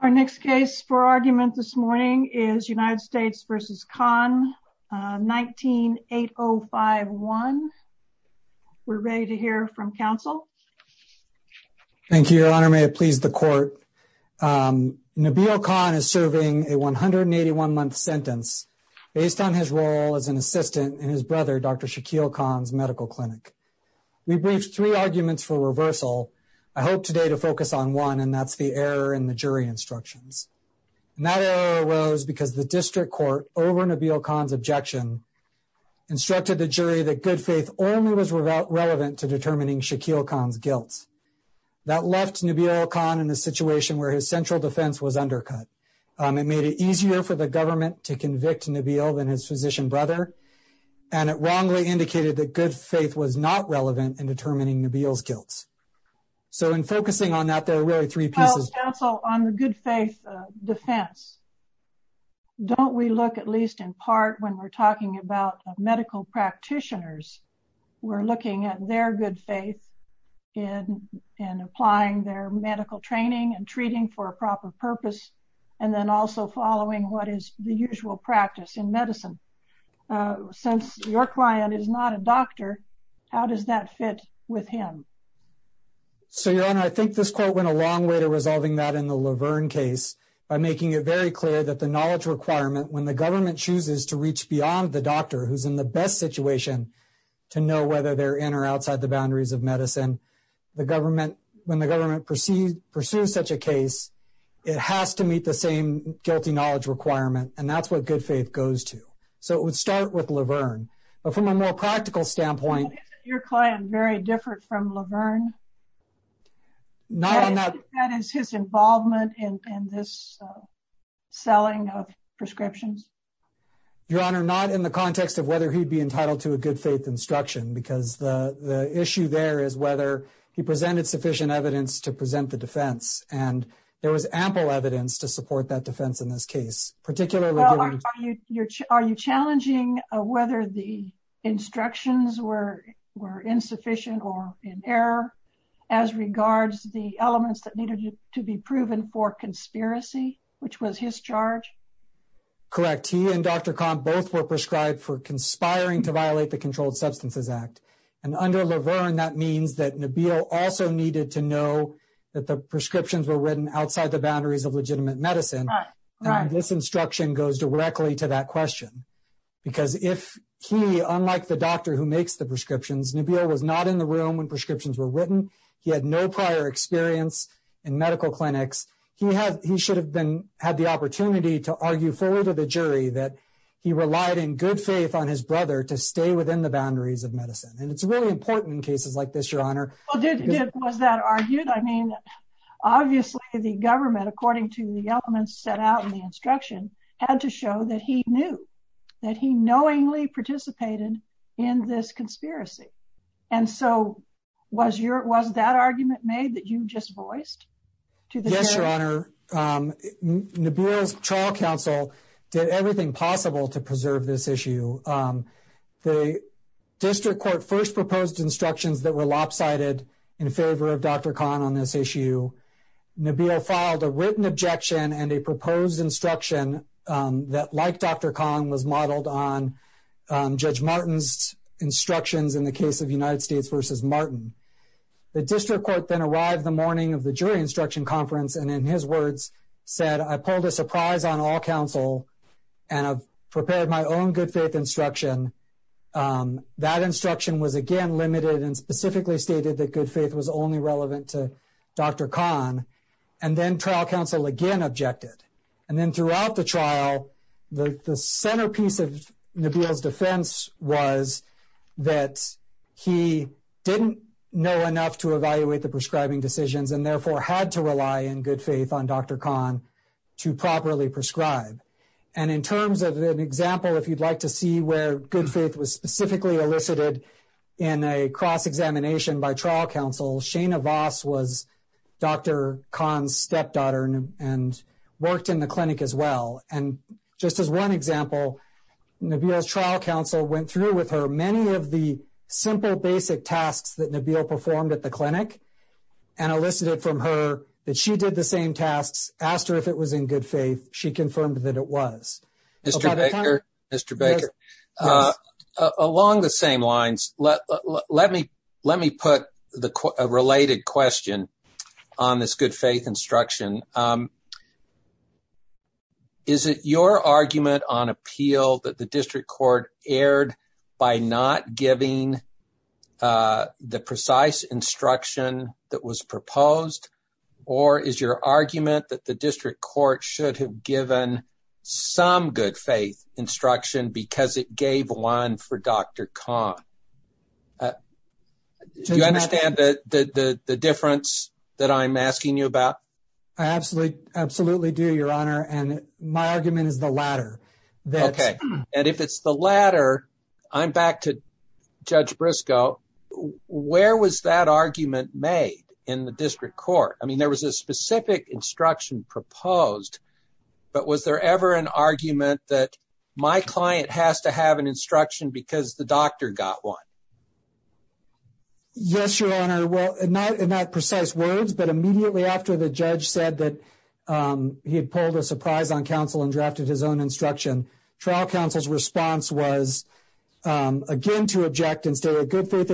Our next case for argument this morning is United States v. Khan, 19-8051. We're ready to hear from counsel. Thank you, Your Honor. May it please the Court. Nabeel Khan is serving a 181-month sentence based on his role as an assistant in his brother, Dr. Shaquille Khan's medical clinic. We briefed three arguments for reversal. I hope today to focus on one, and that's the error in the jury instructions. That error arose because the district court, over Nabeel Khan's objection, instructed the jury that good faith only was relevant to determining Shaquille Khan's guilt. That left Nabeel Khan in a situation where his central defense was undercut. It made it easier for the government to convict Nabeel than his physician brother, and it wrongly indicated that good faith was not relevant in determining Nabeel's guilt. So in focusing on that, there are really three pieces. Counsel, on the good faith defense, don't we look at least in part when we're talking about medical practitioners, we're looking at their good faith in applying their medical training and treating for a proper purpose, and then also following what is the usual practice in medicine. Since your client is not a doctor, how does that fit with him? So your honor, I think this court went a long way to resolving that in the Laverne case by making it very clear that the knowledge requirement, when the government chooses to reach beyond the doctor who's in the best situation to know whether they're in or outside the boundaries of medicine, when the government pursues such a case, it has to meet the same guilty knowledge requirement, and that's what good faith goes to. So it would start with Laverne. But from a more practical standpoint... Isn't your client very different from Laverne? Not on that... That is his involvement in this selling of prescriptions? Your honor, not in the context of whether he'd be entitled to a good faith instruction, because the issue there is whether he presented sufficient evidence to present the defense, and there was ample evidence to support that defense in this case, particularly... Your honor, are you challenging whether the instructions were insufficient or in error as regards the elements that needed to be proven for conspiracy, which was his charge? Correct. He and Dr. Kahn both were prescribed for conspiring to violate the Controlled Substances Act. And under Laverne, that means that Nabeel also needed to know that the prescriptions were written outside the boundaries of legitimate medicine. And this instruction goes directly to that question. Because if he, unlike the doctor who makes the prescriptions, Nabeel was not in the room when prescriptions were written. He had no prior experience in medical clinics. He should have had the opportunity to argue fully to the jury that he relied in good faith on his brother to stay within the boundaries of medicine. And it's really important in cases like this, your honor. Was that argued? I mean, obviously the government, according to the elements set out in the instruction, had to show that he knew, that he knowingly participated in this conspiracy. And so was that argument made that you just voiced to the jury? Yes, your honor. Nabeel's trial counsel did everything possible to preserve this issue. The district court first proposed instructions that were lopsided in favor of Dr. Kahn on this issue. Nabeel filed a written objection and a proposed instruction that, like Dr. Kahn, was modeled on Judge Martin's instructions in the case of United States v. Martin. The district court then arrived the morning of the jury instruction conference and, in his words, said, I pulled a surprise on all counsel and have prepared my own good faith instruction. That instruction was again limited and specifically stated that good faith was only relevant to Dr. Kahn. And then trial counsel again objected. And then throughout the trial, the centerpiece of Nabeel's defense was that he didn't know enough to evaluate the prescribing decisions and therefore had to rely in good faith on Dr. Kahn to properly prescribe. And in terms of an example, if you'd like to see where good faith was specifically elicited in a cross examination by trial counsel, Shana Voss was Dr. Kahn's stepdaughter and worked in the clinic as well. And just as one example, Nabeel's trial counsel went through with her many of the simple basic tasks that Nabeel performed at the clinic and elicited from her that she did the same tasks, asked her if it was in good faith. She confirmed that it was. Mr. Baker, along the same lines, let me let me put the related question on this good faith instruction. Is it your argument on appeal that the district court erred by not giving the precise instruction that was proposed? Or is your argument that the district court should have given some good faith instruction because it gave one for Dr. Kahn? Do you understand the difference that I'm asking you about? I absolutely, absolutely do, Your Honor. And my argument is the latter. And if it's the latter, I'm back to Judge Briscoe. Where was that argument made in the district court? I mean, there was a specific instruction proposed, but was there ever an argument that my client has to have an instruction because the doctor got one? Yes, Your Honor. Well, not in that precise words, but immediately after the judge said that he had pulled a surprise on counsel and drafted his own instruction, trial counsel's response was again to object and say a good faith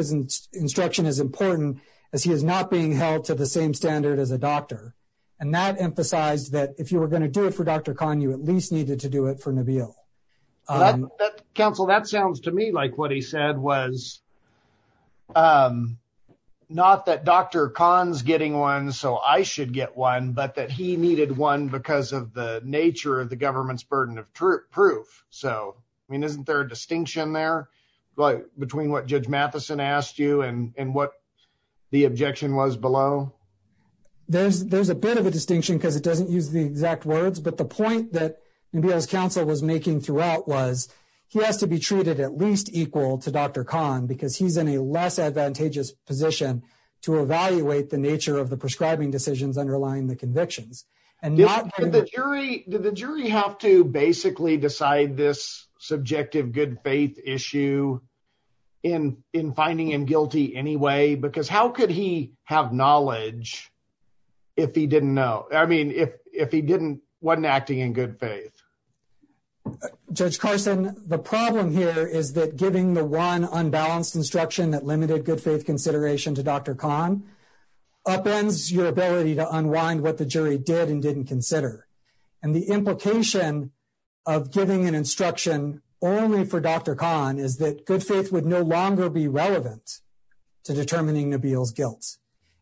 instruction is important as he is not being held to the same standard as a doctor. And that emphasized that if you were going to do it for Dr. Kahn, you at least needed to do it for Nabeel. Counsel, that sounds to me like what he said was not that Dr. Kahn's getting one, so I should get one, but that he needed one because of the nature of the government's burden of proof. So, I mean, isn't there a distinction there between what Judge Matheson asked you and what the objection was below? There's a bit of a distinction because it doesn't use the exact words, but the point that Nabeel's counsel was making throughout was he has to be treated at least equal to Dr. Kahn because he's in a less advantageous position to evaluate the nature of the prescribing decisions underlying the convictions. Did the jury have to basically decide this subjective good faith issue in finding him guilty anyway? Because how could he have knowledge if he didn't know, I mean, if he wasn't acting in good faith? Judge Carson, the problem here is that giving the one unbalanced instruction that limited good faith consideration to Dr. Kahn upends your ability to unwind what the jury did and didn't consider. And the implication of giving an instruction only for Dr. Kahn is that good faith would no longer be relevant to determining Nabeel's guilt.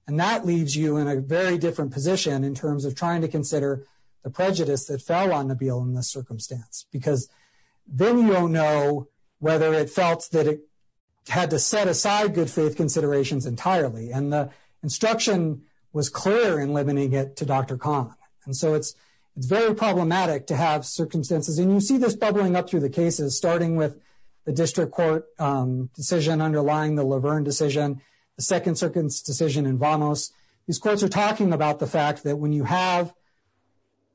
And that leaves you in a very different position in terms of trying to consider the prejudice that fell on Nabeel in this circumstance. Because then you don't know whether it felt that it had to set aside good faith considerations entirely. And the instruction was clear in limiting it to Dr. Kahn. And so it's very problematic to have circumstances. And you see this bubbling up through the cases, starting with the district court decision underlying the Laverne decision, the Second Circuit's decision in Vanos. These courts are talking about the fact that when you have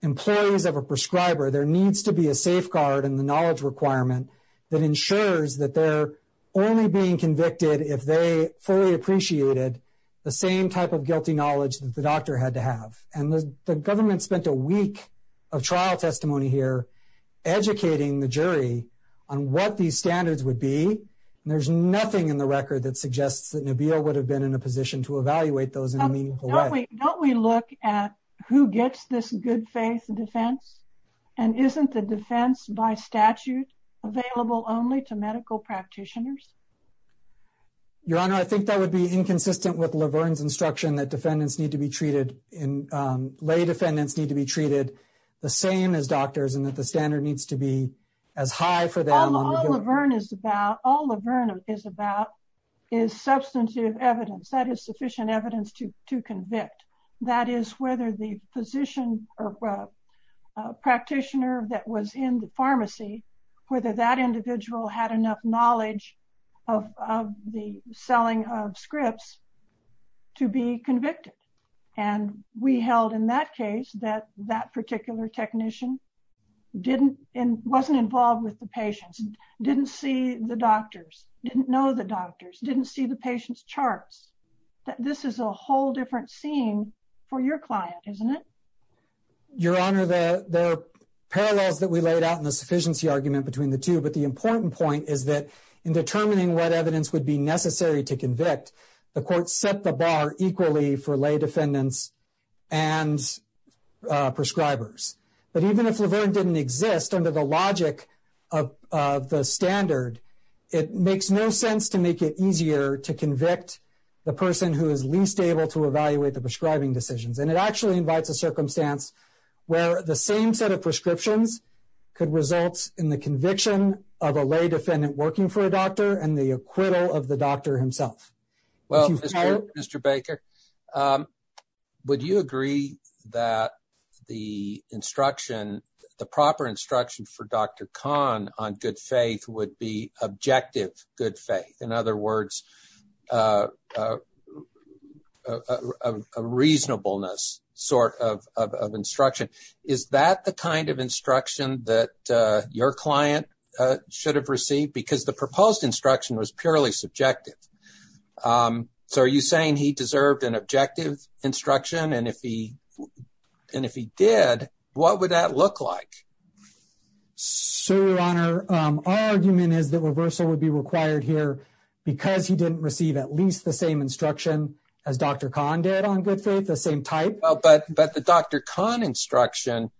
employees of a prescriber, there needs to be a safeguard in the knowledge requirement that ensures that they're only being convicted if they fully appreciated the same type of guilty knowledge that the doctor had to have. And the government spent a week of trial testimony here educating the jury on what these standards would be. And there's nothing in the record that suggests that Nabeel would have been in a position to evaluate those in a meaningful way. Don't we look at who gets this good faith defense? And isn't the defense by statute available only to medical practitioners? Your Honor, I think that would be inconsistent with Laverne's instruction that defendants need to be treated, lay defendants need to be treated the same as doctors and that the standard needs to be as high for them. All Laverne is about is substantive evidence. That is sufficient evidence to convict. That is whether the physician or practitioner that was in the pharmacy, whether that individual had enough knowledge of the selling of scripts to be convicted. And we held in that case that that particular technician wasn't involved with the patients, didn't see the doctors, didn't know the doctors, didn't see the patient's charts. This is a whole different scene for your client, isn't it? Your Honor, there are parallels that we laid out in the sufficiency argument between the two, but the important point is that in determining what evidence would be necessary to convict, the court set the bar equally for lay defendants and prescribers. But even if Laverne didn't exist under the logic of the standard, it makes no sense to make it easier to convict the person who is least able to evaluate the prescribing decisions. And it actually invites a circumstance where the same set of prescriptions could result in the conviction of a lay defendant working for a doctor and the acquittal of the doctor himself. Well, Mr. Baker, would you agree that the instruction, the proper instruction for Dr. Khan on good faith would be objective, good faith. In other words, a reasonableness sort of instruction. Is that the kind of instruction that your client should have received? Because the proposed instruction was purely subjective. So are you saying he deserved an objective instruction? And if he and if he did, what would that look like? So, Your Honor, our argument is that reversal would be required here because he didn't receive at least the same instruction as Dr. Khan did on good faith, the same type. But the Dr. Khan instruction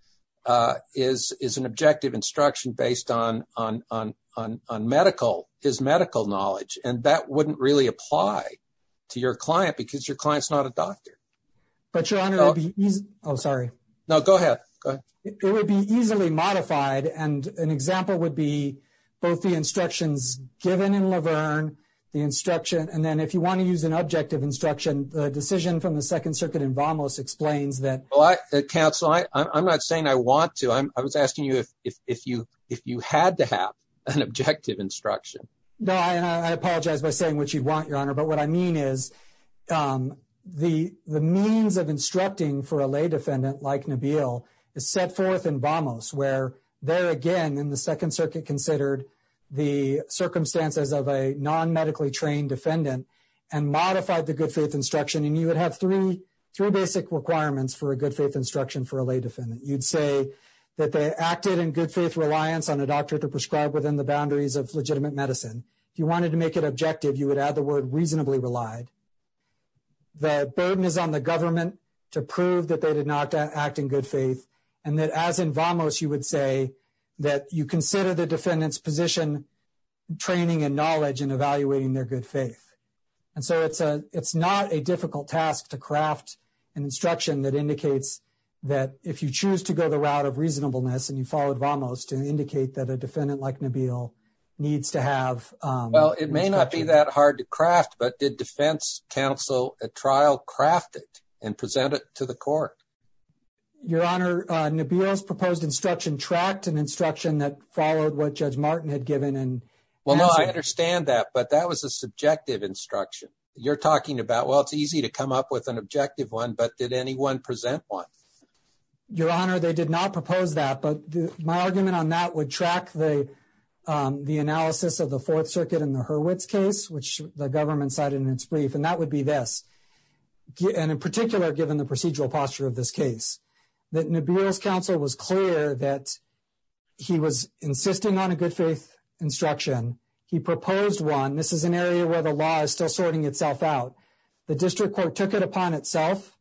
is an objective instruction based on medical, his medical knowledge. And that wouldn't really apply to your client because your client's not a doctor. But, Your Honor, it would be easy. Oh, sorry. No, go ahead. Go ahead. It would be easily modified. And an example would be both the instructions given in Laverne, the instruction. And then if you want to use an objective instruction, the decision from the Second Circuit in Vamos explains that. Counsel, I'm not saying I want to. I was asking you if you if you had to have an objective instruction. No, I apologize by saying what you want, Your Honor. But what I mean is the the means of instructing for a lay defendant like Nabil is set forth in Vamos, where there again in the Second Circuit considered the circumstances of a non medically trained defendant and modified the good faith instruction. And you would have three three basic requirements for a good faith instruction for a lay defendant. You'd say that they acted in good faith reliance on a doctor to prescribe within the boundaries of legitimate medicine. If you wanted to make it objective, you would add the word reasonably relied. The burden is on the government to prove that they did not act in good faith. And that as in Vamos, you would say that you consider the defendant's position, training and knowledge and evaluating their good faith. And so it's a it's not a difficult task to craft an instruction that indicates that if you choose to go the route of reasonableness and you followed Vamos to indicate that a defendant like Nabil needs to have. Well, it may not be that hard to craft. But did defense counsel at trial craft it and present it to the court? Your Honor, Nabil's proposed instruction tracked an instruction that followed what Judge Martin had given. And well, no, I understand that. But that was a subjective instruction you're talking about. Well, it's easy to come up with an objective one. But did anyone present one? Your Honor, they did not propose that. But my argument on that would track the the analysis of the Fourth Circuit in the Hurwitz case, which the government cited in its brief. And that would be this. And in particular, given the procedural posture of this case, that Nabil's counsel was clear that he was insisting on a good faith instruction. He proposed one. This is an area where the law is still sorting itself out. The district court took it upon itself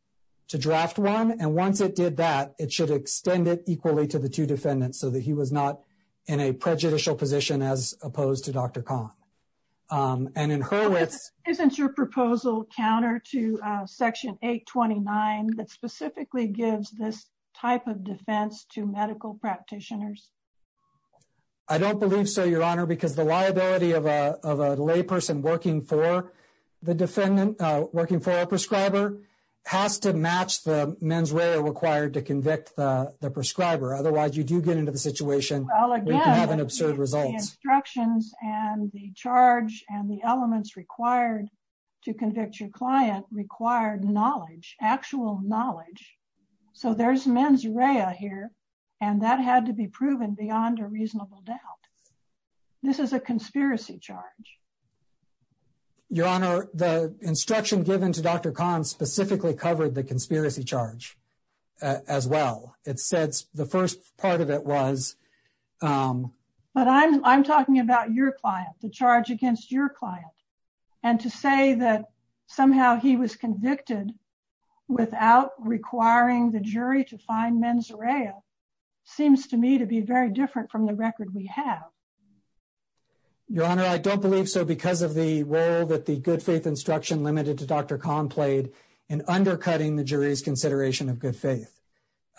to draft one. And once it did that, it should extend it equally to the two defendants so that he was not in a prejudicial position as opposed to Dr. Kahn and in Hurwitz. Isn't your proposal counter to Section 829 that specifically gives this type of defense to medical practitioners? I don't believe so, Your Honor, because the liability of a lay person working for the defendant, working for a prescriber has to match the mens rea required to convict the prescriber. Otherwise, you do get into the situation. I'll have an absurd result. Instructions and the charge and the elements required to convict your client required knowledge, actual knowledge. So there's mens rea here. And that had to be proven beyond a reasonable doubt. This is a conspiracy charge. Your Honor, the instruction given to Dr. Kahn specifically covered the conspiracy charge as well. It said the first part of it was. But I'm talking about your client, the charge against your client. And to say that somehow he was convicted without requiring the jury to find mens rea seems to me to be very different from the record we have. Your Honor, I don't believe so because of the role that the good faith instruction limited to Dr. Kahn played in undercutting the jury's consideration of good faith.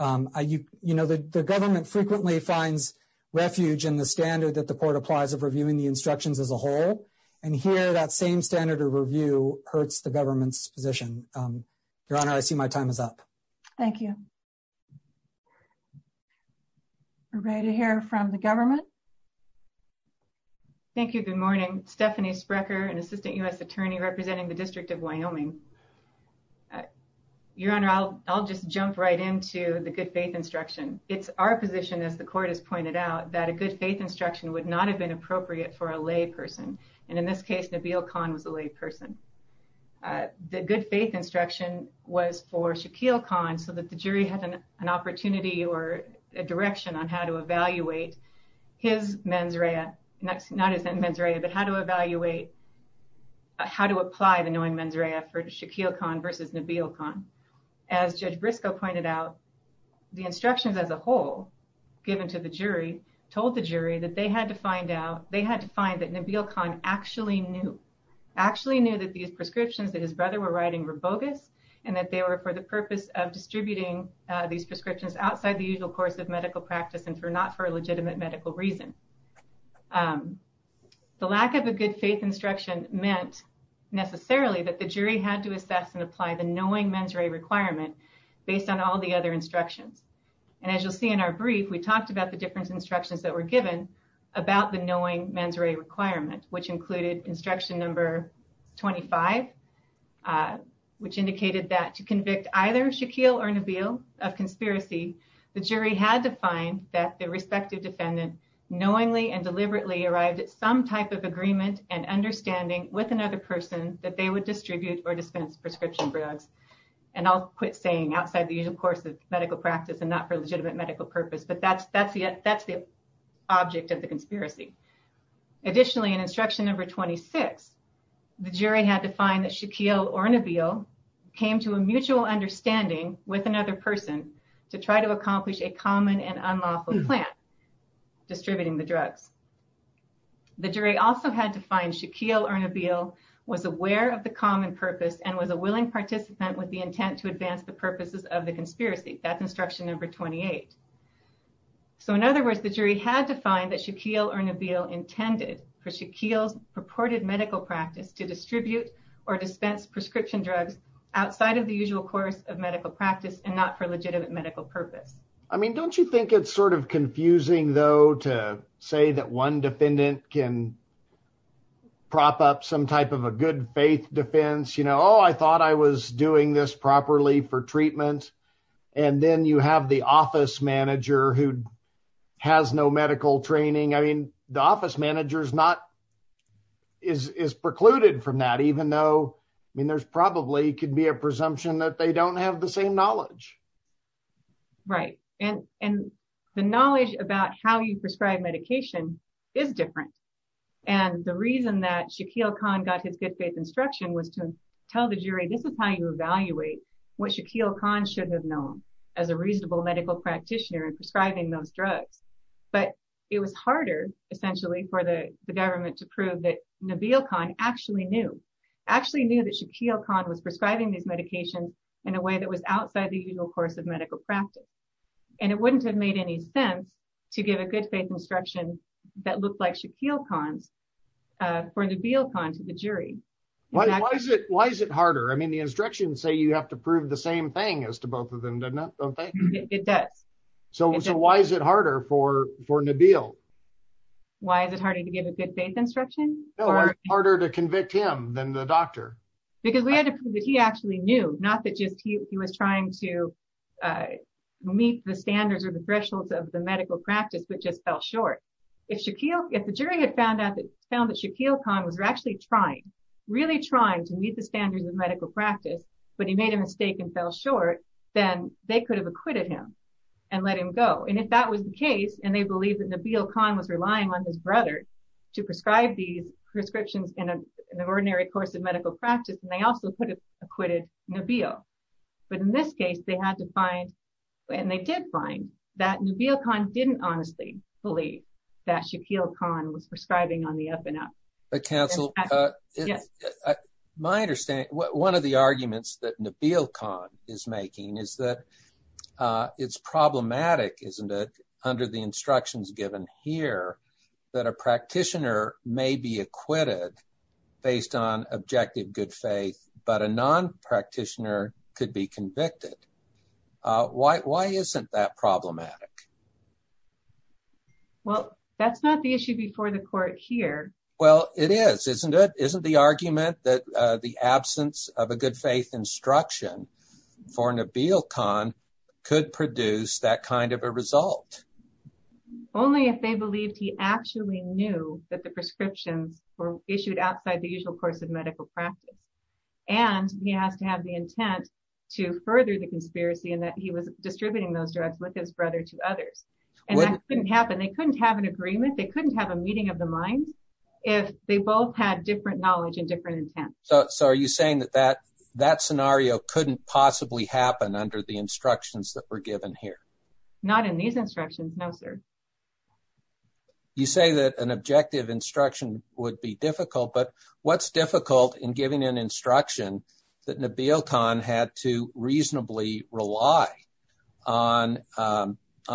You know, the government frequently finds refuge in the standard that the court applies of reviewing the instructions as a whole. And here that same standard of review hurts the government's position. Your Honor, I see my time is up. Thank you. Ready to hear from the government. Thank you. Good morning. Stephanie Sprecher, an assistant U.S. attorney representing the District of Wyoming. Your Honor, I'll just jump right into the good faith instruction. It's our position, as the court has pointed out, that a good faith instruction would not have been appropriate for a lay person. And in this case, Nabil Khan was a lay person. The good faith instruction was for Shaquille Khan so that the jury had an opportunity or a direction on how to evaluate his mens rea. Not as mens rea, but how to evaluate how to apply the knowing mens rea for Shaquille Khan versus Nabil Khan. As Judge Briscoe pointed out, the instructions as a whole given to the jury told the jury that they had to find out they had to find that Nabil Khan actually knew, actually knew that these prescriptions that his brother were writing were bogus and that they were for the purpose of distributing these prescriptions outside the usual course of medical practice and for not for a legitimate medical reason. The lack of a good faith instruction meant necessarily that the jury had to assess and apply the knowing mens rea requirement based on all the other instructions. And as you'll see in our brief, we talked about the different instructions that were given about the knowing mens rea requirement, which included instruction number 25, which indicated that to convict either Shaquille or Nabil of conspiracy, the jury had to find that the respective defendant knowingly and deliberately arrived at some type of agreement and understanding with another person that they would distribute or dispense prescription drugs. And I'll quit saying outside the usual course of medical practice and not for legitimate medical purpose, but that's the object of the conspiracy. Additionally, in instruction number 26, the jury had to find that Shaquille or Nabil came to a mutual understanding with another person to try to accomplish a common and unlawful plan, distributing the drugs. The jury also had to find Shaquille or Nabil was aware of the common purpose and was a willing participant with the intent to advance the purposes of the conspiracy. That's instruction number 28. So in other words, the jury had to find that Shaquille or Nabil intended for Shaquille's purported medical practice to distribute or dispense prescription drugs outside of the usual course of medical practice and not for legitimate medical purpose. I mean, don't you think it's sort of confusing, though, to say that one defendant can prop up some type of a good faith defense? You know, oh, I thought I was doing this properly for treatment. And then you have the office manager who has no medical training. I mean, the office manager is not is precluded from that, even though I mean, there's probably could be a presumption that they don't have the same knowledge. Right. And and the knowledge about how you prescribe medication is different. And the reason that Shaquille Khan got his good faith instruction was to tell the jury, this is how you evaluate what Shaquille Khan should have known as a reasonable medical practitioner and prescribing those drugs. But it was harder, essentially, for the government to prove that Nabil Khan actually knew actually knew that Shaquille Khan was prescribing these medications in a way that was outside the usual course of medical practice. And it wouldn't have made any sense to give a good faith instruction that looked like Shaquille Khan's for Nabil Khan to the jury. Why is it why is it harder? I mean, the instructions say you have to prove the same thing as to both of them. It does. So why is it harder for for Nabil? Why is it harder to give a good faith instruction or harder to convict him than the doctor? Because we had to prove that he actually knew not that just he was trying to meet the standards or the thresholds of the medical practice, which just fell short. If Shaquille, if the jury had found out that found that Shaquille Khan was actually trying, really trying to meet the standards of medical practice, but he made a mistake and fell short, then they could have acquitted him and let him go. And if that was the case, and they believe that Nabil Khan was relying on his brother to prescribe these prescriptions in an ordinary course of medical practice, and they also could have acquitted Nabil. But in this case, they had to find and they did find that Nabil Khan didn't honestly believe that Shaquille Khan was prescribing on the up and up. My understanding, one of the arguments that Nabil Khan is making is that it's problematic, isn't it? Under the instructions given here that a practitioner may be acquitted based on objective good faith, but a non practitioner could be convicted. Why isn't that problematic? Well, that's not the issue before the court here. Well, it is, isn't it? Isn't the argument that the absence of a good faith instruction for Nabil Khan could produce that kind of a result? Only if they believed he actually knew that the prescriptions were issued outside the usual course of medical practice. And he has to have the intent to further the conspiracy and that he was distributing those drugs with his brother to others. And that couldn't happen. They couldn't have an agreement. They couldn't have a meeting of the minds if they both had different knowledge and different intent. So are you saying that that scenario couldn't possibly happen under the instructions that were given here? Not in these instructions. No, sir. You say that an objective instruction would be difficult, but what's difficult in giving an instruction that Nabil Khan had to reasonably rely on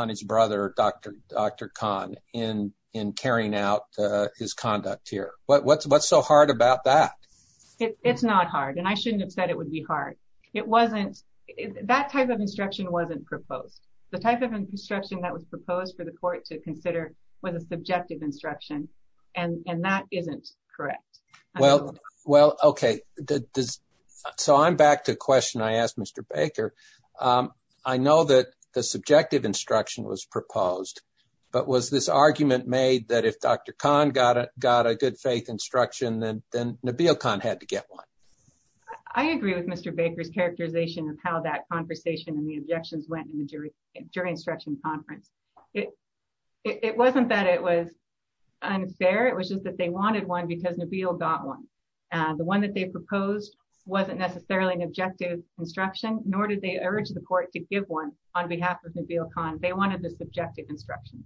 his brother, Dr. Khan, in carrying out his conduct here? What's so hard about that? It's not hard. And I shouldn't have said it would be hard. That type of instruction wasn't proposed. The type of instruction that was proposed for the court to consider was a subjective instruction. And that isn't correct. Well, OK. So I'm back to the question I asked Mr. Baker. I know that the subjective instruction was proposed. But was this argument made that if Dr. Khan got a good faith instruction, then Nabil Khan had to get one? I agree with Mr. Baker's characterization of how that conversation and the objections went in the jury instruction conference. It wasn't that it was unfair. It was just that they wanted one because Nabil got one. The one that they proposed wasn't necessarily an objective instruction, nor did they urge the court to give one on behalf of Nabil Khan. They wanted the subjective instruction.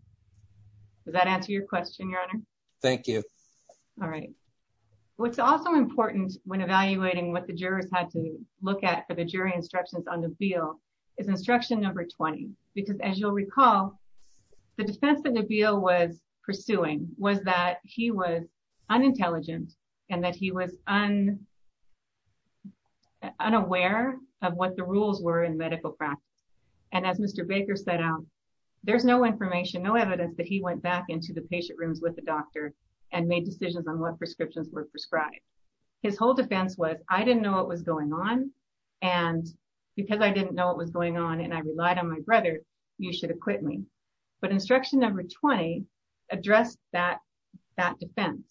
Does that answer your question, Your Honor? Thank you. All right. What's also important when evaluating what the jurors had to look at for the jury instructions on Nabil is instruction number 20. Because as you'll recall, the defense that Nabil was pursuing was that he was unintelligent and that he was unaware of what the rules were in medical practice. And as Mr. Baker set out, there's no information, no evidence that he went back into the patient rooms with the doctor and made decisions on what prescriptions were prescribed. His whole defense was, I didn't know what was going on. And because I didn't know what was going on and I relied on my brother, you should acquit me. But instruction number 20 addressed that defense.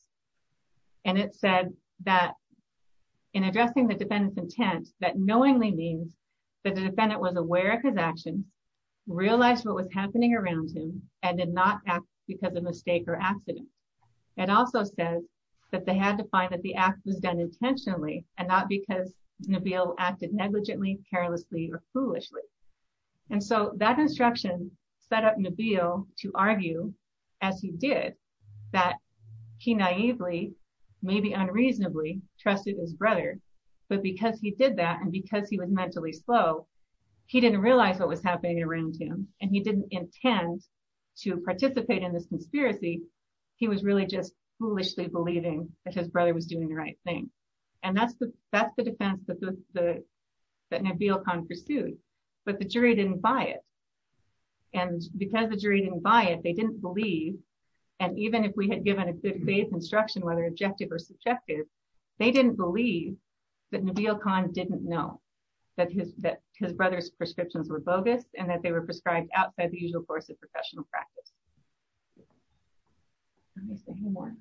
And it said that in addressing the defendant's intent, that knowingly means that the defendant was aware of his actions, realized what was happening around him, and did not act because of mistake or accident. It also said that they had to find that the act was done intentionally and not because Nabil acted negligently, carelessly, or foolishly. And so that instruction set up Nabil to argue, as he did, that he naively, maybe unreasonably, trusted his brother. But because he did that, and because he was mentally slow, he didn't realize what was happening around him, and he didn't intend to participate in this conspiracy. He was really just foolishly believing that his brother was doing the right thing. And that's the defense that Nabil Khan pursued. But the jury didn't buy it. And because the jury didn't buy it, they didn't believe, and even if we had given a good faith instruction, whether objective or subjective, they didn't believe that Nabil Khan didn't know that his brother's prescriptions were bogus and that they were prescribed outside the usual course of professional practice. Anything more?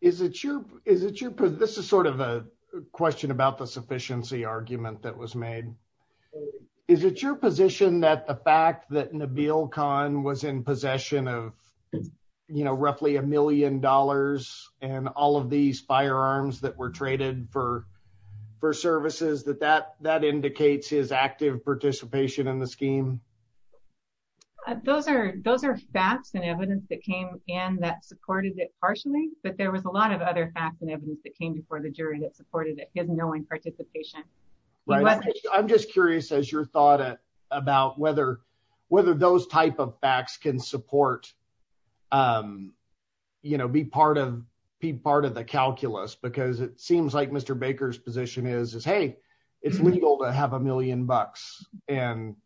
This is sort of a question about the sufficiency argument that was made. Is it your position that the fact that Nabil Khan was in possession of roughly a million dollars and all of these firearms that were traded for services, that that indicates his active participation in the scheme? Those are facts and evidence that came in that supported it partially, but there was a lot of other facts and evidence that came before the jury that supported it, his knowing participation. I'm just curious, as your thought about whether those type of facts can support, you know, be part of the calculus, because it seems like Mr. Baker's position is, hey, it's legal to have a million bucks, and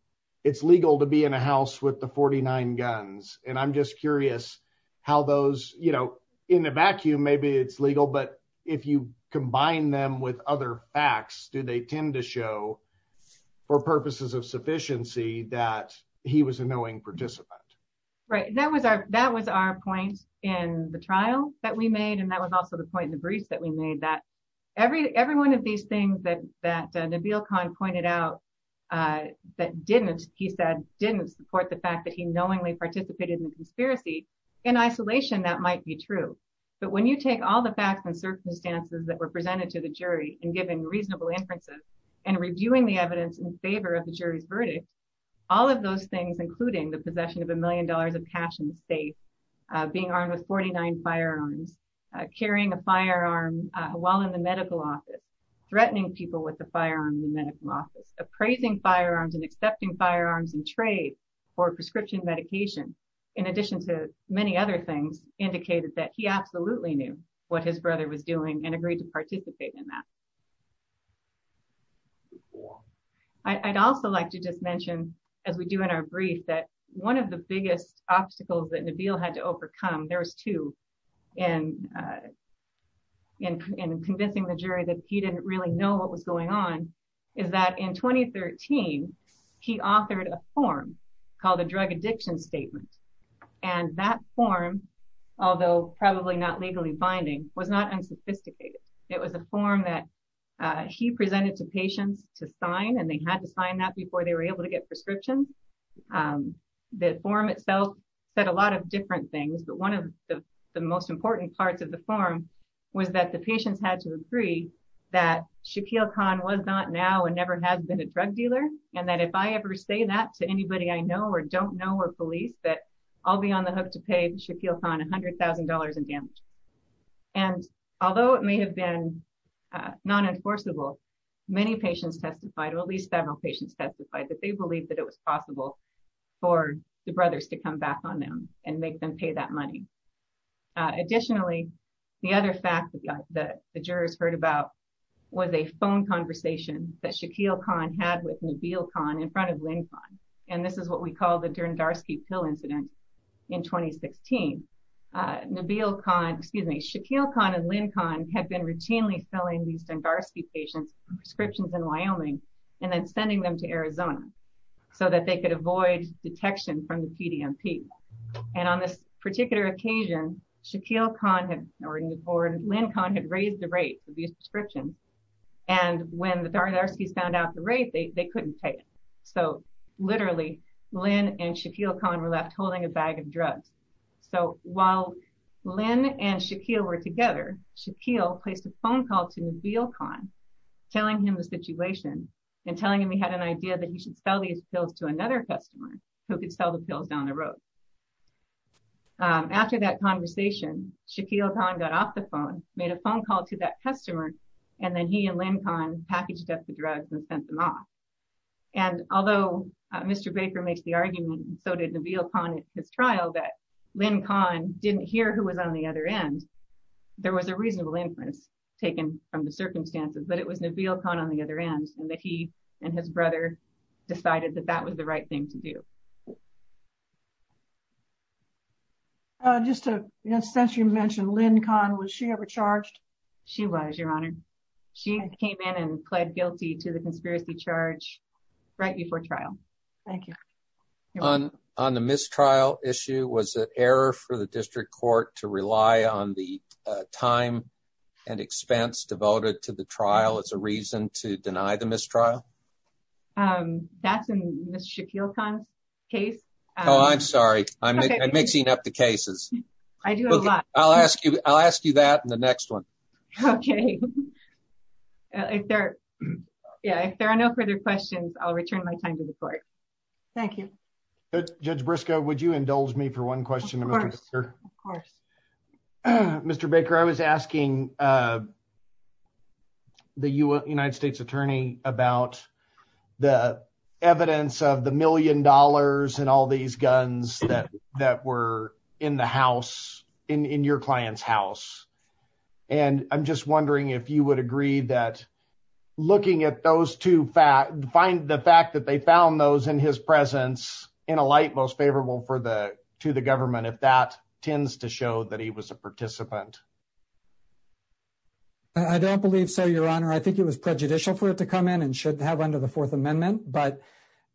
it's legal to be in a house with the 49 guns. And I'm just curious how those, you know, in a vacuum, maybe it's legal, but if you combine them with other facts, do they tend to show, for purposes of sufficiency, that he was a knowing participant? Right. That was our point in the trial that we made, and that was also the point in the briefs that we made, that every one of these things that Nabil Khan pointed out that didn't, he said, didn't support the fact that he knowingly participated in the conspiracy, in isolation, that might be true. But when you take all the facts and circumstances that were presented to the jury, and given reasonable inferences, and reviewing the evidence in favor of the jury's verdict, all of those things, including the possession of a million dollars of cash in the state, being armed with 49 firearms, carrying a firearm while in the medical office, threatening people with a firearm in the medical office, appraising firearms and accepting firearms in trade for prescription medication, in addition to many other things, indicated that he absolutely knew what his brother was doing and agreed to participate in that. I'd also like to just mention, as we do in our brief, that one of the biggest obstacles that Nabil had to overcome, there was two, in convincing the jury that he didn't really know what was going on, is that in 2013, he authored a form called a drug addiction statement. And that form, although probably not legally binding, was not unsophisticated. It was a form that he presented to patients to sign and they had to sign that before they were able to get prescriptions. The form itself said a lot of different things, but one of the most important parts of the form was that the patients had to agree that Shaquille Khan was not now and never has been a drug dealer, and that if I ever say that to anybody I know or don't know or police, that I'll be on the hook to pay Shaquille Khan $100,000 in damage. And although it may have been non-enforceable, many patients testified, or at least several patients testified, that they believed that it was possible for the brothers to come back on them and make them pay that money. Additionally, the other fact that the jurors heard about was a phone conversation that Shaquille Khan had with Nabil Khan in front of Lynn Khan. And this is what we call the Dundarski pill incident in 2016. Nabil Khan, excuse me, Shaquille Khan and Lynn Khan had been routinely filling these Dundarski patients with prescriptions in Wyoming and then sending them to Arizona so that they could avoid detection from the PDMP. And on this particular occasion, Shaquille Khan, or Lynn Khan, had raised the rate of these prescriptions, and when the Dundarskis found out the rate, they couldn't pay it. So literally, Lynn and Shaquille Khan were left holding a bag of drugs. So while Lynn and Shaquille were together, Shaquille placed a phone call to Nabil Khan, telling him the situation and telling him he had an idea that he should sell these pills to another customer who could sell the pills down the road. After that conversation, Shaquille Khan got off the phone, made a phone call to that customer, and then he and Lynn Khan packaged up the drugs and sent them off. And although Mr. Baker makes the argument, and so did Nabil Khan at his trial, that Lynn Khan didn't hear who was on the other end, there was a reasonable inference taken from the circumstances, but it was Nabil Khan on the other end, and that he and his brother decided that that was the right thing to do. Just to, since you mentioned Lynn Khan, was she ever charged? She was, Your Honor. She came in and pled guilty to the conspiracy charge right before trial. Thank you. On the mistrial issue, was it error for the district court to rely on the time and expense devoted to the trial as a reason to deny the mistrial? That's in Ms. Shaquille Khan's case. Oh, I'm sorry. I'm mixing up the cases. I do a lot. I'll ask you that in the next one. Okay. If there are no further questions, I'll return my time to the court. Thank you. Judge Briscoe, would you indulge me for one question? Of course. Mr. Baker, I was asking the United States Attorney about the evidence of the million dollars and all these guns that were in the house, in your client's house. And I'm just wondering if you would agree that looking at those two facts, the fact that they found those in his presence in a light most favorable to the government, if that tends to show that he was a participant? I don't believe so, Your Honor. I think it was prejudicial for it to come in and should have under the Fourth Amendment. But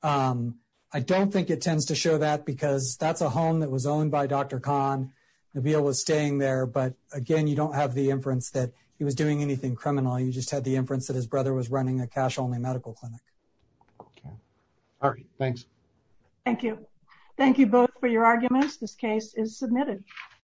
I don't think it tends to show that because that's a home that was owned by Dr. Khan. Nabil was staying there. But again, you don't have the inference that he was doing anything criminal. You just had the inference that his brother was running a cash-only medical clinic. Okay. All right. Thanks. Thank you. Thank you both for your arguments. This case is submitted.